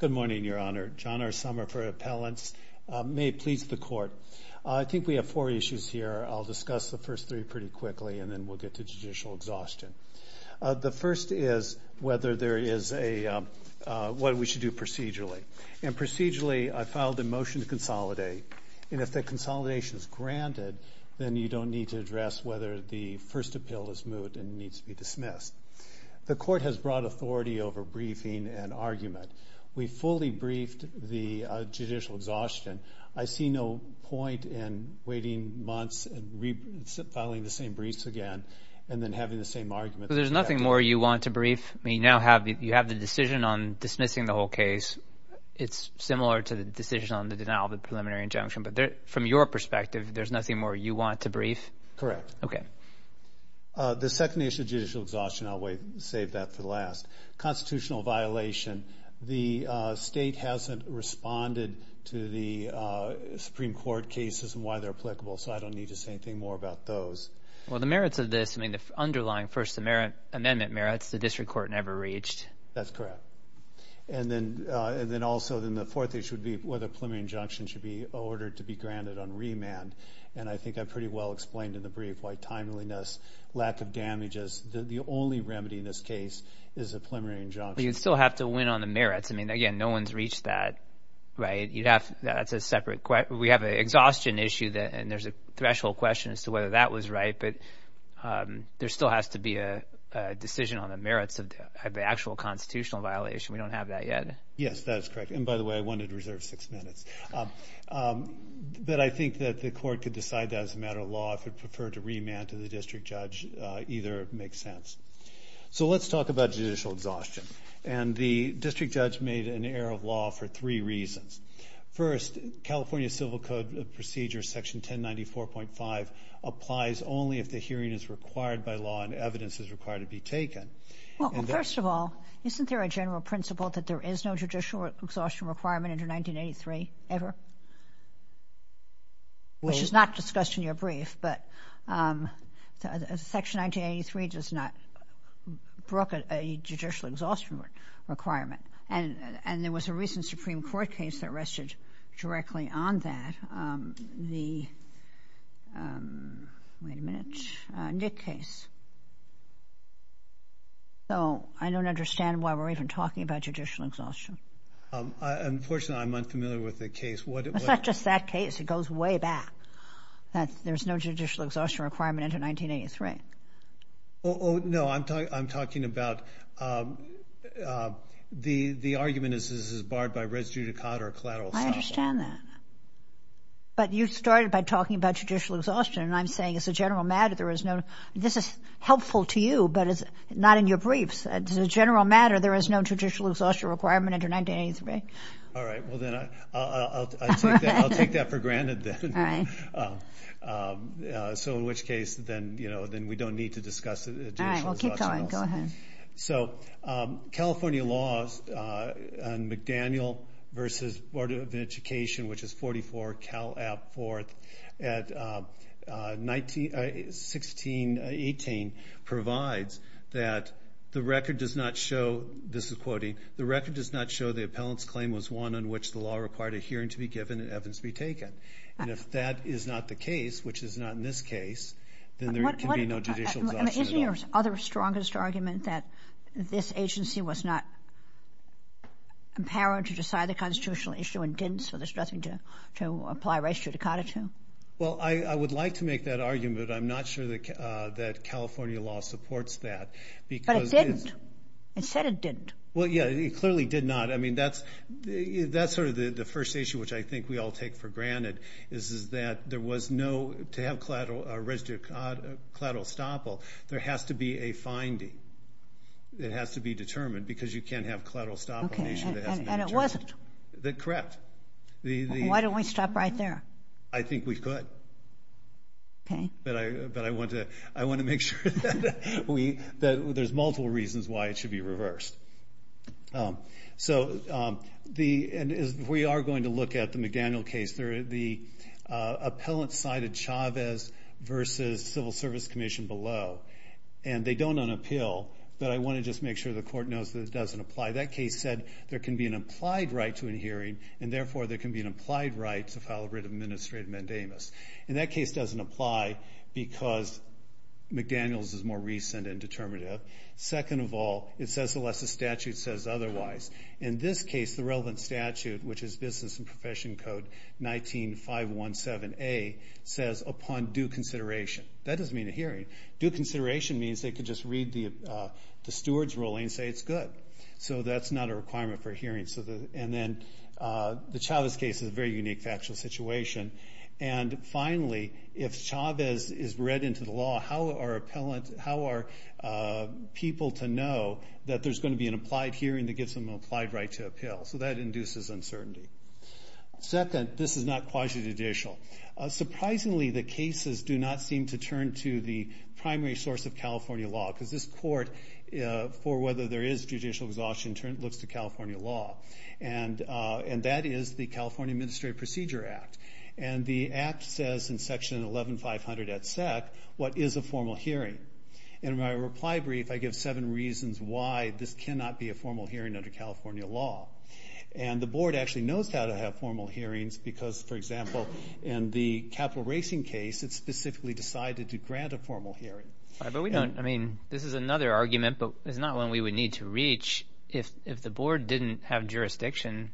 Good morning, your honor. John R. Sommer for appellants. May it please the court. I think we have four issues here. I'll discuss the first three pretty quickly and then we'll get to judicial exhaustion. The first is whether there is a, what we should do procedurally. And procedurally, I filed a motion to consolidate. And if the consolidation is granted, then you don't need to address whether the first appeal is moot and needs to be dismissed. The court has broad authority over briefing and argument. We fully briefed the judicial exhaustion. I see no point in waiting months and filing the same briefs again and then having the same argument. But there's nothing more you want to brief? I mean, you now have, you have the decision on dismissing the whole case. It's similar to the decision on the denial of the preliminary injunction. But from your perspective, there's nothing more you want to brief? Correct. Okay. The second issue, judicial exhaustion, I'll save that for last. Constitutional violation, the state hasn't responded to the Supreme Court cases and why they're applicable. So I don't need to say anything more about those. Well, the merits of this, I mean, the underlying First Amendment merits, the district court never reached. That's correct. And then, and then also, then the fourth issue would be whether preliminary injunction should be ordered to be granted on remand. And I think I pretty well explained in the brief why timeliness, lack of damages, the only remedy in this case is a preliminary injunction. But you'd still have to win on the merits. I mean, again, no one's reached that, right? You'd have, that's a separate question. We have an exhaustion issue that, and there's a threshold question as to whether that was right. But there still has to be a decision on the merits of the actual constitutional violation. We don't have that yet. Yes, that's correct. And by the way, I wanted to reserve six minutes. But I think that the court could decide that as a matter of law, if it preferred to remand to the district judge, either makes sense. So let's talk about judicial exhaustion. And the district judge made an error of law for three reasons. First, California Civil Code procedure section 1094.5 applies only if the hearing is required by law and evidence is required to be taken. Well, first of all, isn't there a general principle that there is no judicial exhaustion requirement under 1983 ever? Which is not discussed in your brief. But Section 1983 does not brook a judicial exhaustion requirement. And there was a recent Supreme Court case that rested directly on that. The, wait a minute, Nick case. So I don't understand why we're even talking about judicial exhaustion. Unfortunately, I'm unfamiliar with the case. It's not just that case. It goes way back. That there's no judicial exhaustion requirement under 1983. Oh, no, I'm talking about, the argument is this is barred by res judicata or collateral assault. I understand that. But you started by talking about judicial exhaustion. And I'm saying as a general matter, there is no, this is helpful to you, but it's not in your briefs. As a general matter, there is no judicial exhaustion requirement under 1983. All right. Well, then I'll take that for granted then. So in which case, then we don't need to discuss it. All right. Well, keep going. Go ahead. So California laws on McDaniel v. Board of Education, which is 44 Cal. App. 4th at 1618 provides that the record does not show, this is quoting, the record does not show the appellant's claim was one on which the law required a hearing to be given and evidence to be taken. And if that is not the case, which is not in this case, then there can be no judicial exhaustion at all. Isn't your other strongest argument that this agency was not empowered to decide the constitutional issue and didn't, so there's nothing to apply res judicata to? Well, I would like to make that argument. I'm not sure that California law supports that. But it didn't. It said it didn't. Well, yeah, it clearly did not. I mean, that's sort of the first issue which I think we all take for granted is that there was no, to have res judicata, collateral estoppel, there has to be a finding. It has to be determined because you can't have collateral estoppel an issue that hasn't been determined. And it wasn't. Correct. Why don't we stop right there? I think we could. Okay. But I want to make sure that we, that there's multiple reasons why it should be reversed. So the, and as we are going to look at the McDaniel case, there are the appellant side of Chavez versus Civil Service Commission below. And they don't unappeal, but I want to just make sure the court knows that it doesn't apply. That case said there can be an implied right to an hearing, and therefore there can be an implied right to file a writ of administrative mandamus. And that case doesn't apply because McDaniel's is more recent and determinative. Second of all, it says unless the statute says otherwise. In this case, the relevant statute, which is Business and Profession Code 19-517A, says upon due consideration. That doesn't mean a hearing. Due consideration means they could just read the steward's ruling and say it's good. So that's not a requirement for a hearing. So the, and then the Chavez case is a very unique factual situation. And finally, if Chavez is read into the law, how are appellant, how are people to know that there's going to be an implied hearing that gives them an implied right to appeal? So that induces uncertainty. Second, this is not quasi-judicial. Surprisingly, the cases do not seem to turn to the primary source of California law. Because this court, for whether there is judicial exhaustion, looks to California law. And that is the California Administrative Procedure Act. And the Act says in section 11-500 at SEC, what is a formal hearing? In my reply brief, I give seven reasons why this cannot be a formal hearing under California law. And the Board actually knows how to have formal hearings because, for example, in the Capital Racing case, it specifically decided to grant a formal hearing. But we don't, I mean, this is another argument, but it's not one we would need to reach. If the Board didn't have jurisdiction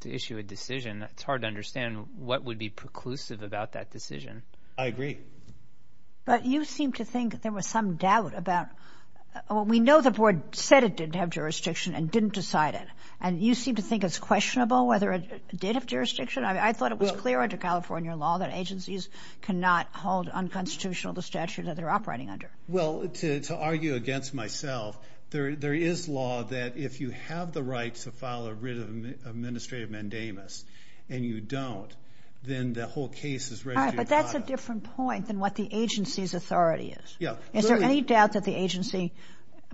to issue a decision, it's hard to understand what would be preclusive about that decision. I agree. But you seem to think there was some doubt about, well, we know the Board said it didn't have jurisdiction and didn't decide it. And you seem to think it's questionable whether it did have jurisdiction? I mean, I thought it was clear under California law that agencies cannot hold unconstitutional the statute that they're operating under. Well, to argue against myself, there is law that if you have the right to file a writ of administrative mandamus and you don't, then the whole case is registered. But that's a different point than what the agency's authority is. Yeah. Is there any doubt that the agency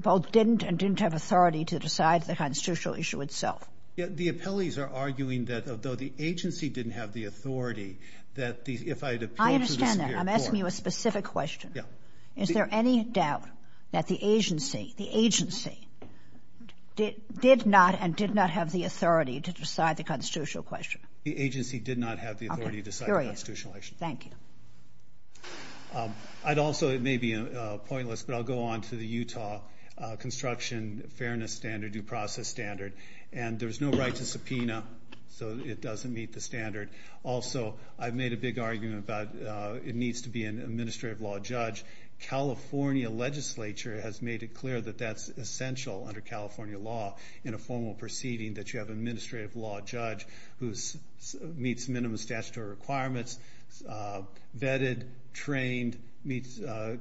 both didn't and didn't have authority to decide the constitutional issue itself? Yeah. The appellees are arguing that although the agency didn't have the authority, that if I had appealed to the Supreme Court... I understand that. I'm asking you a specific question. Yeah. Is there any doubt that the agency did not and did not have the authority to decide the constitutional question? The agency did not have the authority to decide the constitutional issue. Thank you. I'd also, it may be pointless, but I'll go on to the Utah construction fairness standard, due process standard. And there's no right to subpoena, so it doesn't meet the standard. Also, I've made a big argument about it needs to be an administrative law judge. California legislature has made it clear that that's essential under California law in a formal proceeding, that you have an administrative law judge who meets minimum statutory requirements, vetted, trained, meets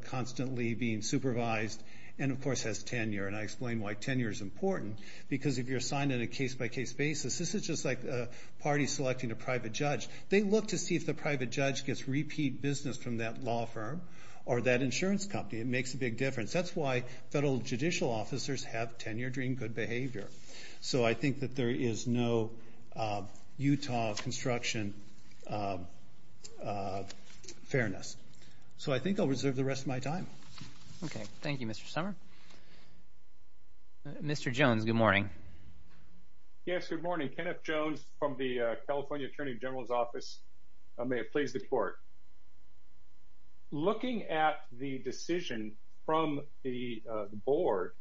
constantly, being supervised, and of course has tenure. And I explain why tenure is important, because if you're assigned on a case-by-case basis, this is just like a party selecting a private judge. They look to see if the private judge gets repeat business from that law firm or that insurance company. It makes a big difference. That's why federal judicial officers have tenure-dream good behavior. So I think that there is no Utah construction fairness. So I think I'll reserve the rest of my time. Okay. Thank you, Mr. Sommer. Mr. Jones, good morning. Yes, good morning. Kenneth Jones from the California Attorney General's Office. May it please the Court. Looking at the decision from the Board,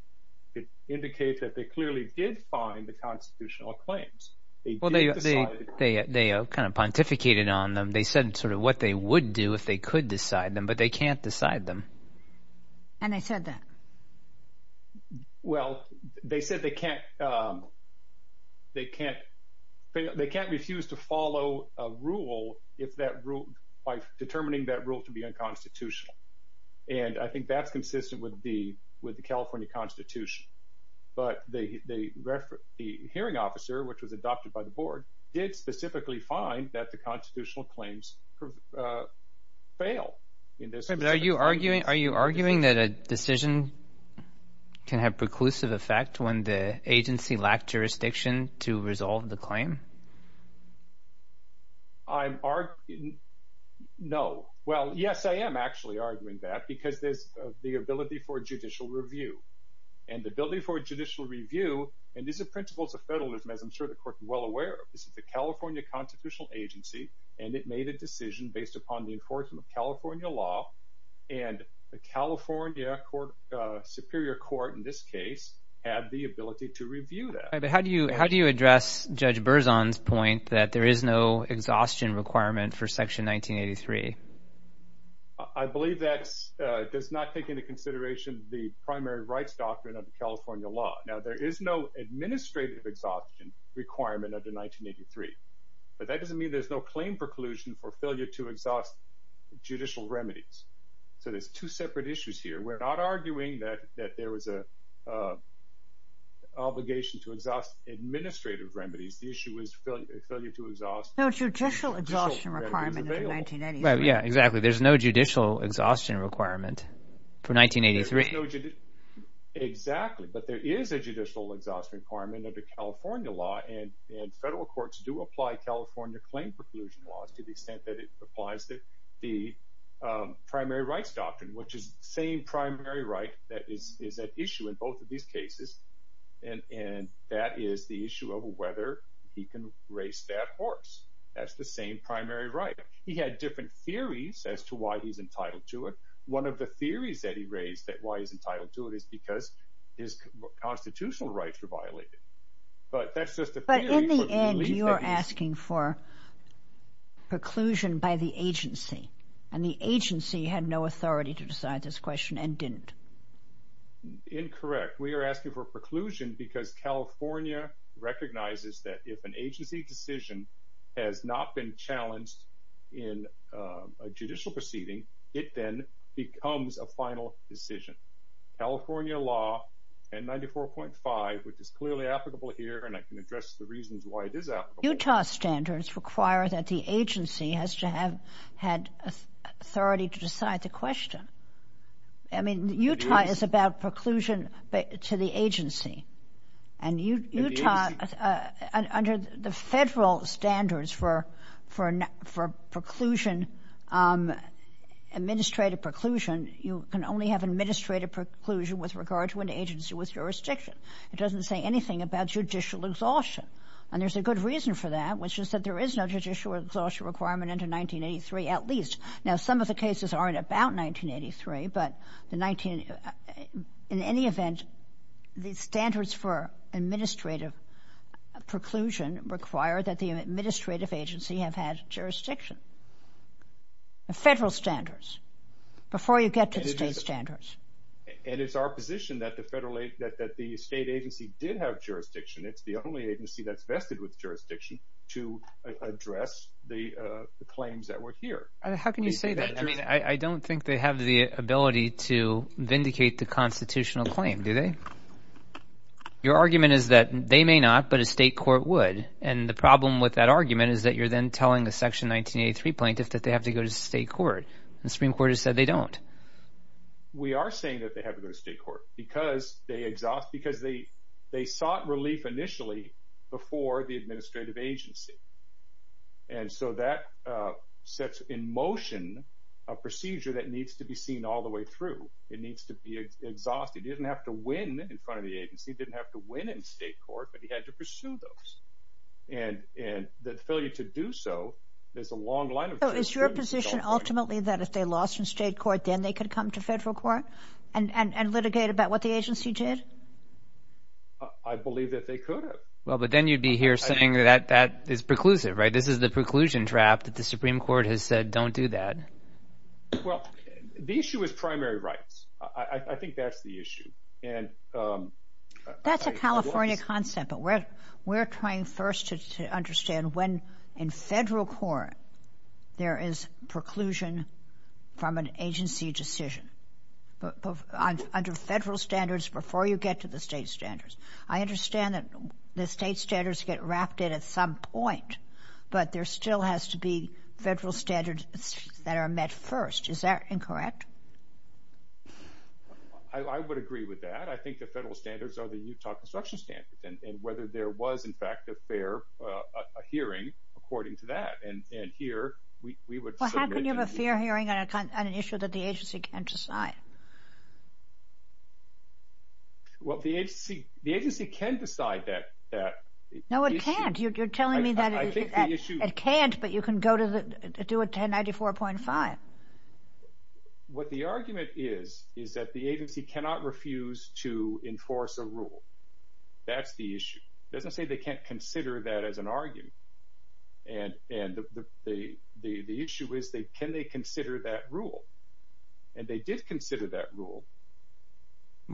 it indicates that they clearly did find the constitutional claims. Well, they kind of pontificated on them. They said sort of what they would do if they could decide them, but they can't decide them. And they said that? Well, they said they can't refuse to follow a rule by determining that rule to be unconstitutional. And I think that's consistent with the California Constitution. But the hearing officer, which was adopted by the Board, did specifically find that the constitutional claims failed. But are you arguing that a decision can have preclusive effect when the agency lacked jurisdiction to resolve the claim? I'm arguing... No. Well, yes, I am actually arguing that because there's the ability for judicial review. And the ability for judicial review, and these are principles of federalism, as I'm sure the Court is well aware of. This is the California Constitutional Agency, and it made a decision based upon the enforcement of California law. And the California Superior Court, in this case, had the ability to review that. But how do you address Judge Berzon's point that there is no exhaustion requirement for Section 1983? I believe that does not take into consideration the primary rights doctrine of the California law. Now, there is no administrative exhaustion requirement under 1983, but that doesn't mean there's no claim preclusion for failure to exhaust judicial remedies. So there's two separate issues here. We're not arguing that there was an obligation to exhaust administrative remedies. The issue is failure to exhaust... No judicial exhaustion requirement in 1983. Yeah, exactly. There's no judicial exhaustion requirement for 1983. Exactly. But there is a judicial exhaustion requirement under California law, and federal courts do apply California claim preclusion laws to the extent that it applies the primary rights doctrine, which is the same primary right that is at issue in both of these cases, and that is the issue of whether he can race that horse. That's the same primary right. He had different theories as to why he's entitled to it. One of the theories that he raised that why he's entitled to it is because his constitutional rights were violated. But that's just a theory. But in the end, you are asking for preclusion by the agency, and the agency had no authority to decide this question and didn't. Incorrect. We are asking for preclusion because California recognizes that if an agency decision has not been challenged in a judicial proceeding, it then becomes a final decision. California law, N94.5, which is clearly applicable here, and I can address the reasons why it is applicable. Utah standards require that the agency has to have had authority to decide the question. I mean, Utah is about preclusion to the agency. And Utah, under the federal standards for preclusion, administrative preclusion, you can only have administrative preclusion with regard to an agency with jurisdiction. It doesn't say anything about judicial exhaustion. And there's a good reason for that, which is that there is no judicial exhaustion requirement under 1983, at least. Now, some of the cases aren't about 1983, but in any event, the standards for administrative preclusion require that the administrative agency have had jurisdiction. The federal standards, before you get to the state standards. And it's our position that the state agency did have jurisdiction. It's the only agency that's vested with jurisdiction to address the claims that were here. How can you say that? I mean, I don't think they have the ability to vindicate the constitutional claim, do they? Your argument is that they may not, but a state court would. And the problem with that argument is that you're then telling the Section 1983 plaintiff that they have to go to state court. The Supreme Court has said they don't. We are saying that they have to go to state court because they sought relief initially before the administrative agency. And so that sets in motion a procedure that needs to be seen all the way through. It needs to be exhausted. He didn't have to win in front of the agency, didn't have to win in state court, but he had to pursue those. And the failure to do so, there's a long line. Is your position ultimately that if they lost in state court, then they could come to federal court and litigate about what the agency did? I believe that they could have. Well, but then you'd be here saying that that is preclusive, right? This is the preclusion draft that the Supreme Court has said, don't do that. Well, the issue is primary rights. I think that's the issue. And that's a California concept, but we're trying first to understand when in federal court there is preclusion from an agency decision under federal standards before you get to the state standards. I understand that the state standards get wrapped in at some point, but there still has to be federal standards that are met first. Is that incorrect? I would agree with that. I think the federal standards are the Utah construction standards and whether there was, in fact, a fair hearing according to that. And here we would submit to the- Well, how can you have a fair hearing on an issue that the agency can't decide? Well, the agency can decide that issue. No, it can't. You're telling me that it can't, but you can go to do a 1094.5. What the argument is, is that the agency cannot refuse to enforce a rule. That's the issue. It doesn't say they can't consider that as an argument. And the issue is, can they consider that rule? And they did consider that rule.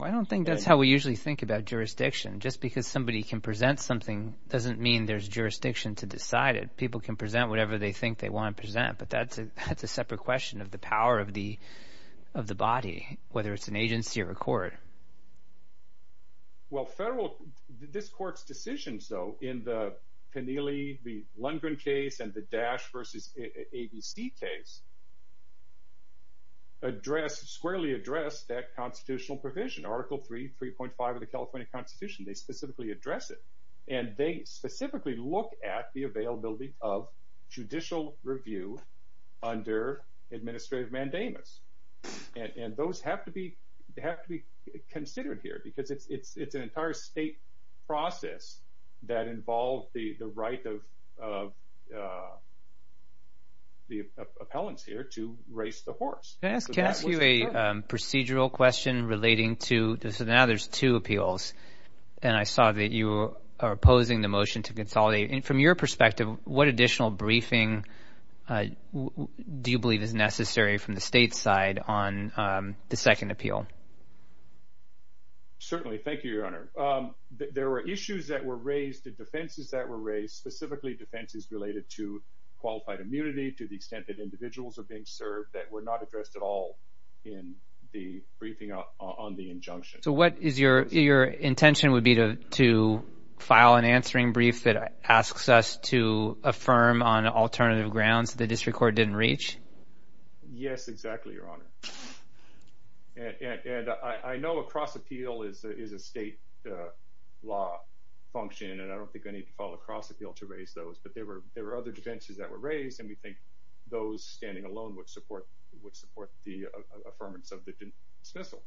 I don't think that's how we usually think about jurisdiction. Just because somebody can present something doesn't mean there's jurisdiction to decide it. People can present whatever they think they want to present, but that's a separate question of the power of the body, whether it's an agency or a court. Well, this court's decisions, though, in the Peneley, the Lundgren case, and the Dash versus ABC case squarely address that constitutional provision. Article 3.5 of the California Constitution, they specifically address it. And they specifically look at the availability of judicial review under administrative mandamus. And those have to be considered here, because it's an entire state process that involved the right of the appellants here to race the horse. Can I ask you a procedural question relating to, so now there's two appeals. And I saw that you are opposing the motion to consolidate. And from your perspective, what additional briefing do you believe is necessary from the state side on the second appeal? Certainly. Thank you, Your Honor. There were issues that were raised, the defenses that were raised, specifically defenses related to qualified immunity, to the extent that individuals are being served that were not addressed at all in the briefing on the injunction. So what is your intention would be to file an answering brief that asks us to affirm on alternative grounds that the district court didn't reach? Yes, exactly, Your Honor. And I know a cross-appeal is a state law function. And I don't think I need to file a cross-appeal to raise those. But there were other defenses that were raised. And we think those standing alone would support the affirmance of the dismissal.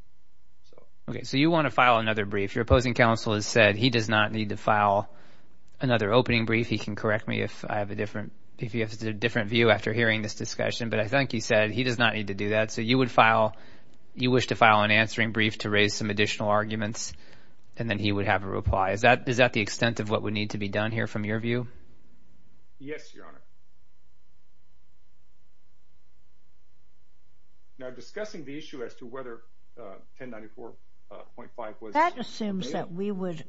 OK, so you want to file another brief. Your opposing counsel has said he does not need to file another opening brief. He can correct me if I have a different view after hearing this discussion. But I think he said he does not need to do that. So you would file, you wish to file an answering brief to raise some additional arguments. And then he would have a reply. Is that the extent of what would need to be done here from your view? Yes, Your Honor. Now, discussing the issue as to whether 1094.5 was— That assumes that we would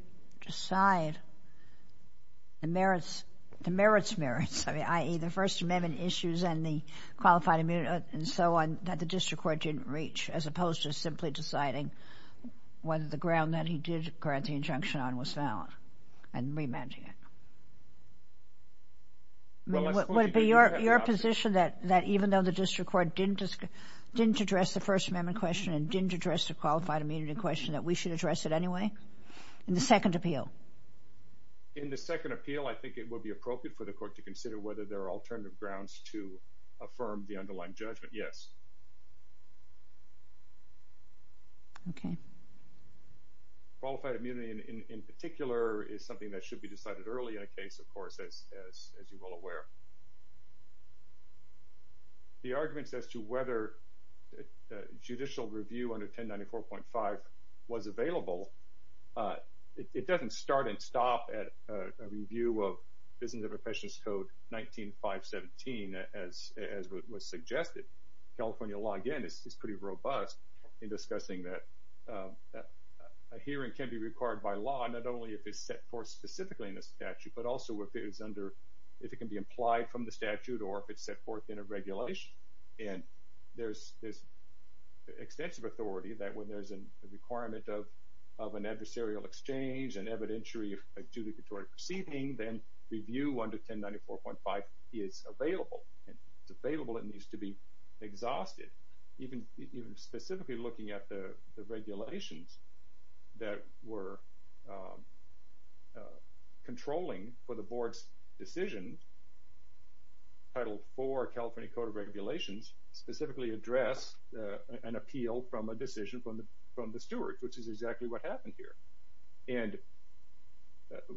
decide the merits, the merits merits, i.e., the First Amendment issues and the qualified immunity and so on that the district court didn't reach, as opposed to simply deciding whether the ground that he did grant the injunction on was valid and remanding it. Well, let's— Would it be your position that even though the district court didn't address the First Amendment question and didn't address the qualified immunity question, that we should address it anyway in the second appeal? In the second appeal, I think it would be appropriate for the court to consider whether there are alternative grounds to affirm the underlying judgment, yes. OK. Qualified immunity, in particular, is something that should be decided early in a case, of course, as you're well aware. The arguments as to whether judicial review under 1094.5 was available, it doesn't start and stop at a review of Business Interpretations Code 19-517, as was suggested. California law, again, is pretty robust in discussing that a hearing can be required by statute, but also if it's under—if it can be implied from the statute or if it's set forth in a regulation. And there's this extensive authority that when there's a requirement of an adversarial exchange, an evidentiary adjudicatory proceeding, then review under 1094.5 is available. And if it's available, it needs to be exhausted. Even specifically looking at the regulations that were controlling for the board's decisions, Title IV California Code of Regulations specifically address an appeal from a decision from the steward, which is exactly what happened here. And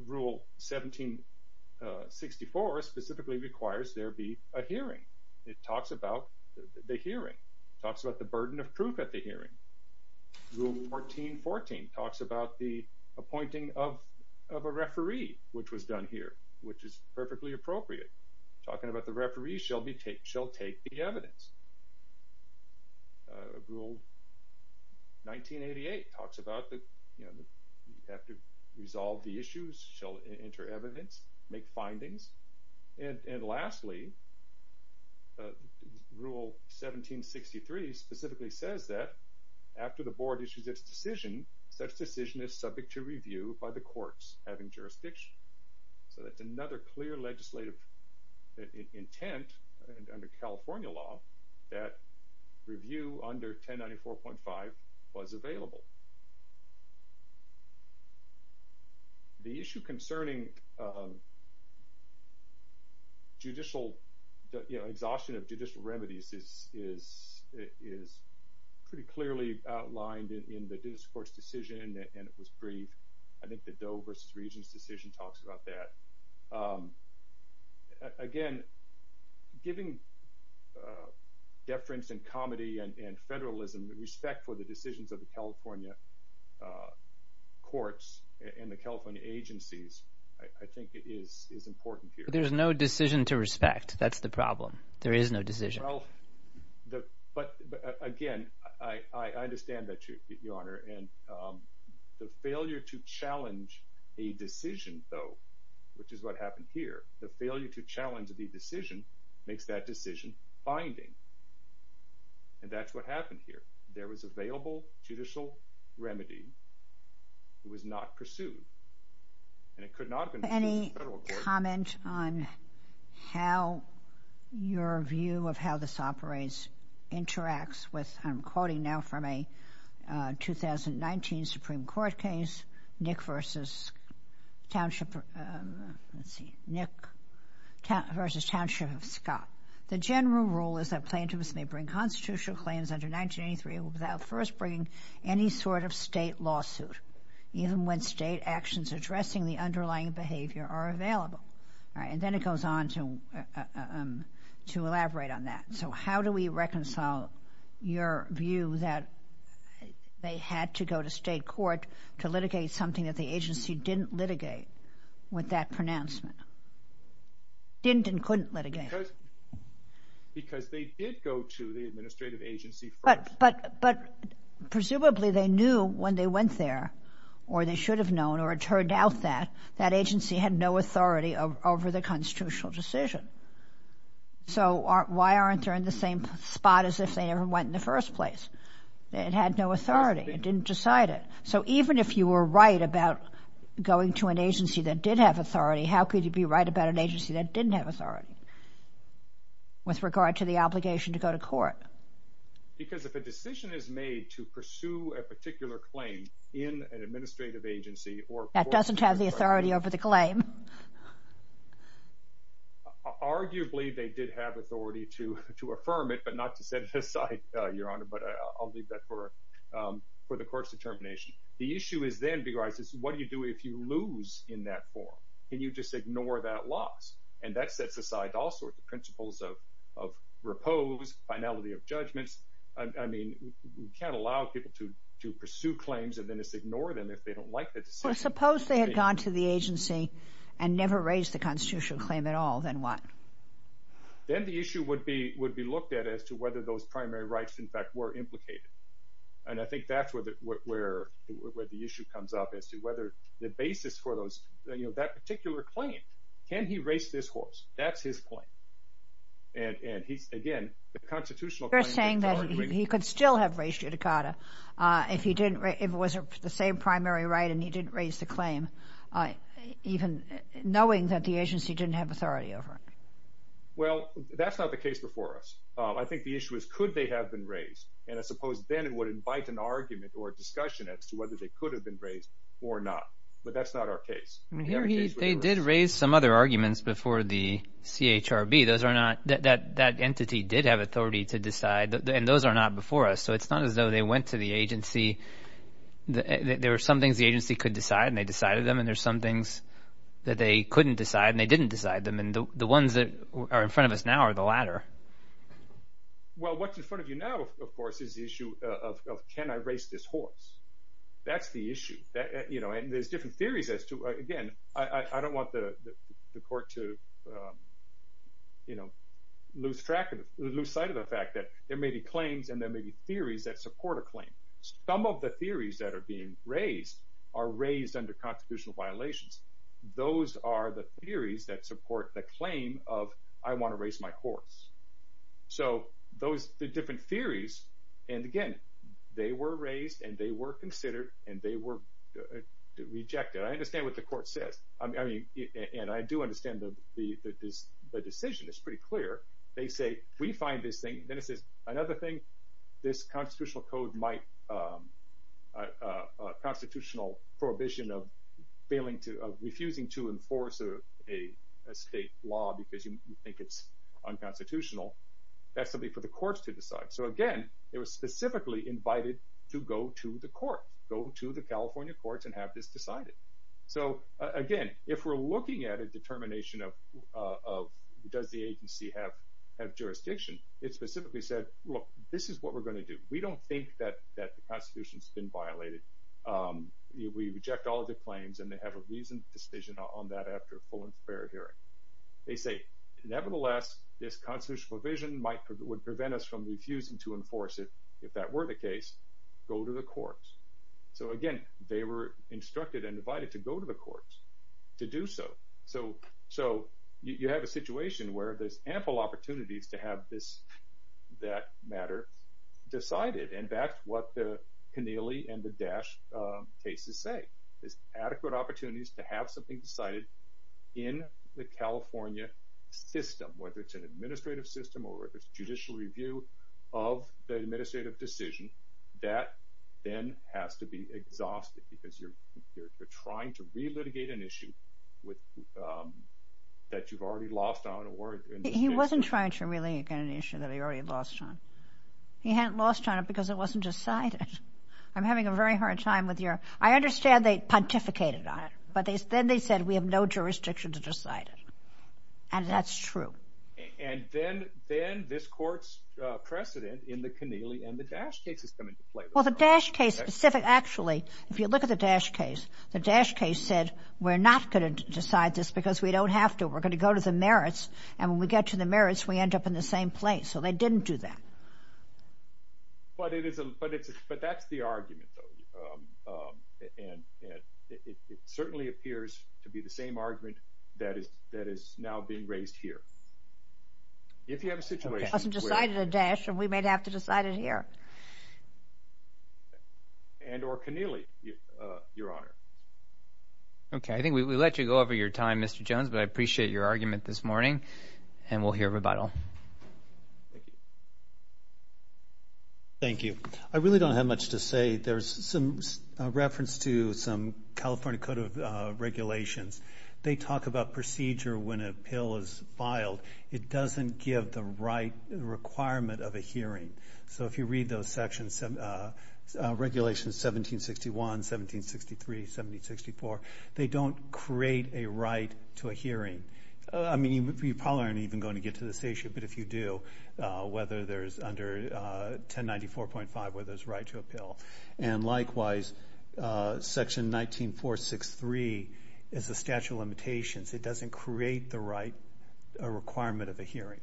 Rule 1764 specifically requires there be a hearing. It talks about the hearing, talks about the burden of proof at the hearing. Rule 1414 talks about the appointing of a referee, which was done here, which is perfectly appropriate. Talking about the referee shall take the evidence. Rule 1988 talks about that you have to resolve the issues, shall enter evidence, make findings. And lastly, Rule 1763 specifically says that after the board issues its decision, such decision is subject to review by the courts having jurisdiction. So that's another clear legislative intent under California law that review under 1094.5 was available. The issue concerning judicial, you know, exhaustion of judicial remedies is pretty clearly outlined in the Dittus Court's decision, and it was brief. I think the Doe versus Regents decision talks about that. Again, giving deference and comedy and federalism respect for the decisions of the California courts and the California agencies, I think it is important here. But there's no decision to respect. That's the problem. There is no decision. But again, I understand that, Your Honor. And the failure to challenge a decision, though, which is what happened here, the failure to challenge the decision makes that decision binding. And that's what happened here. There was available judicial remedy. It was not pursued. And it could not have been pursued by the federal courts. Any comment on how your view of how this operates interacts with, I'm quoting now from a 2019 Supreme Court case, Nick versus Township, let's see, Nick versus Township of Scott. The general rule is that plaintiffs may bring constitutional claims under 1983 without first bringing any sort of state lawsuit, even when state actions addressing the underlying behavior are available. All right. And then it goes on to elaborate on that. So how do we reconcile your view that they had to go to state court to litigate something that the agency didn't litigate with that pronouncement? Didn't and couldn't litigate. Because they did go to the administrative agency first. But presumably they knew when they went there or they should have known or it turned out that that agency had no authority over the constitutional decision. So why aren't they in the same spot as if they ever went in the first place? It had no authority. It didn't decide it. So even if you were right about going to an agency that did have authority, how could you be right about an agency that didn't have authority? With regard to the obligation to go to court. Because if a decision is made to pursue a particular claim in an administrative agency or that doesn't have the authority over the claim. Arguably, they did have authority to to affirm it, but not to set aside your honor. But I'll leave that for for the court's determination. The issue is then because what do you do if you lose in that form? Can you just ignore that loss? And that sets aside all sorts of principles of repose, finality of judgments. I mean, you can't allow people to to pursue claims and then just ignore them if they don't like the decision. Suppose they had gone to the agency and never raised the constitutional claim at all, then what? Then the issue would be would be looked at as to whether those primary rights, in fact, were implicated. And I think that's where the issue comes up as to whether the basis for those that particular claim. Can he race this horse? That's his point. And he's again, the constitutional. You're saying that he could still have raised Uticada if he didn't, if it was the same primary right and he didn't raise the claim, even knowing that the agency didn't have authority over it. Well, that's not the case before us. I think the issue is, could they have been raised? And I suppose then it would invite an argument or discussion as to whether they could have been raised or not. But that's not our case. They did raise some other arguments before the CHRB. That entity did have authority to decide. And those are not before us. So it's not as though they went to the agency. There are some things the agency could decide and they decided them. And there's some things that they couldn't decide and they didn't decide them. And the ones that are in front of us now are the latter. Well, what's in front of you now, of course, is the issue of can I race this horse? That's the issue. And there's different theories as to, again, I don't want the court to lose sight of the fact that there may be claims and there may be theories that support a claim. Some of the theories that are being raised are raised under constitutional violations. Those are the theories that support the claim of I want to race my horse. So those are the different theories. And again, they were raised and they were considered and they were rejected. I understand what the court says. And I do understand the decision is pretty clear. They say, we find this thing. Then it says, another thing, this constitutional code might constitutional prohibition of refusing to enforce a state law because you think it's unconstitutional. That's something for the courts to decide. So, again, it was specifically invited to go to the court, go to the California courts and have this decided. So, again, if we're looking at a determination of does the agency have jurisdiction, it specifically said, look, this is what we're going to do. We don't think that the Constitution has been violated. We reject all of the claims. And they have a reasoned decision on that after a full and fair hearing. They say, nevertheless, this constitutional provision might would prevent us from refusing to enforce it. If that were the case, go to the courts. So, again, they were instructed and invited to go to the courts to do so. So so you have a situation where there's ample opportunities to have this that matter decided. And that's what the Keneally and the dash cases say is adequate opportunities to have something decided in the California system, whether it's an administrative system or if it's judicial review of the administrative decision that then has to be exhausted because you're you're trying to relitigate an issue with that you've already lost on or he wasn't trying to really get an issue that he already lost on. He hadn't lost on it because it wasn't decided. I'm having a very hard time with your I understand they pontificated on it, but then they said we have no jurisdiction to decide it. And that's true. And then then this court's precedent in the Keneally and the dash case is coming to play. Well, the dash case specific, actually, if you look at the dash case, the dash case said we're not going to decide this because we don't have to. We're going to go to the merits. And when we get to the merits, we end up in the same place. So they didn't do that. But it is but it's but that's the argument, though. And it certainly appears to be the same argument that is that is now being raised here. If you have a situation decided a dash and we might have to decide it here. And or Keneally, your honor. OK, I think we let you go over your time, Mr. Jones, but I appreciate your argument this morning and we'll hear rebuttal. Thank you. I really don't have much to say. There's some reference to some California code of regulations. They talk about procedure when a pill is filed. It doesn't give the right requirement of a hearing. So if you read those sections, regulations 1761, 1763, 1764, they don't create a right to a hearing. I mean, you probably aren't even going to get to this issue. But if you do, whether there's under 1094.5, whether it's right to appeal. And likewise, Section 19463 is a statute of limitations. It doesn't create the right requirement of a hearing.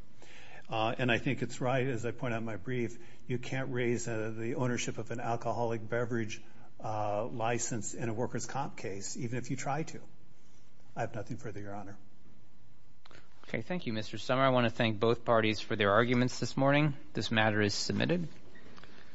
And I think it's right. As I point out, my brief, you can't raise the ownership of an alcoholic beverage license in a worker's comp case, even if you try to. I have nothing further, your honor. OK, thank you, Mr. Summer. I want to thank both parties for their arguments this morning. This matter is submitted.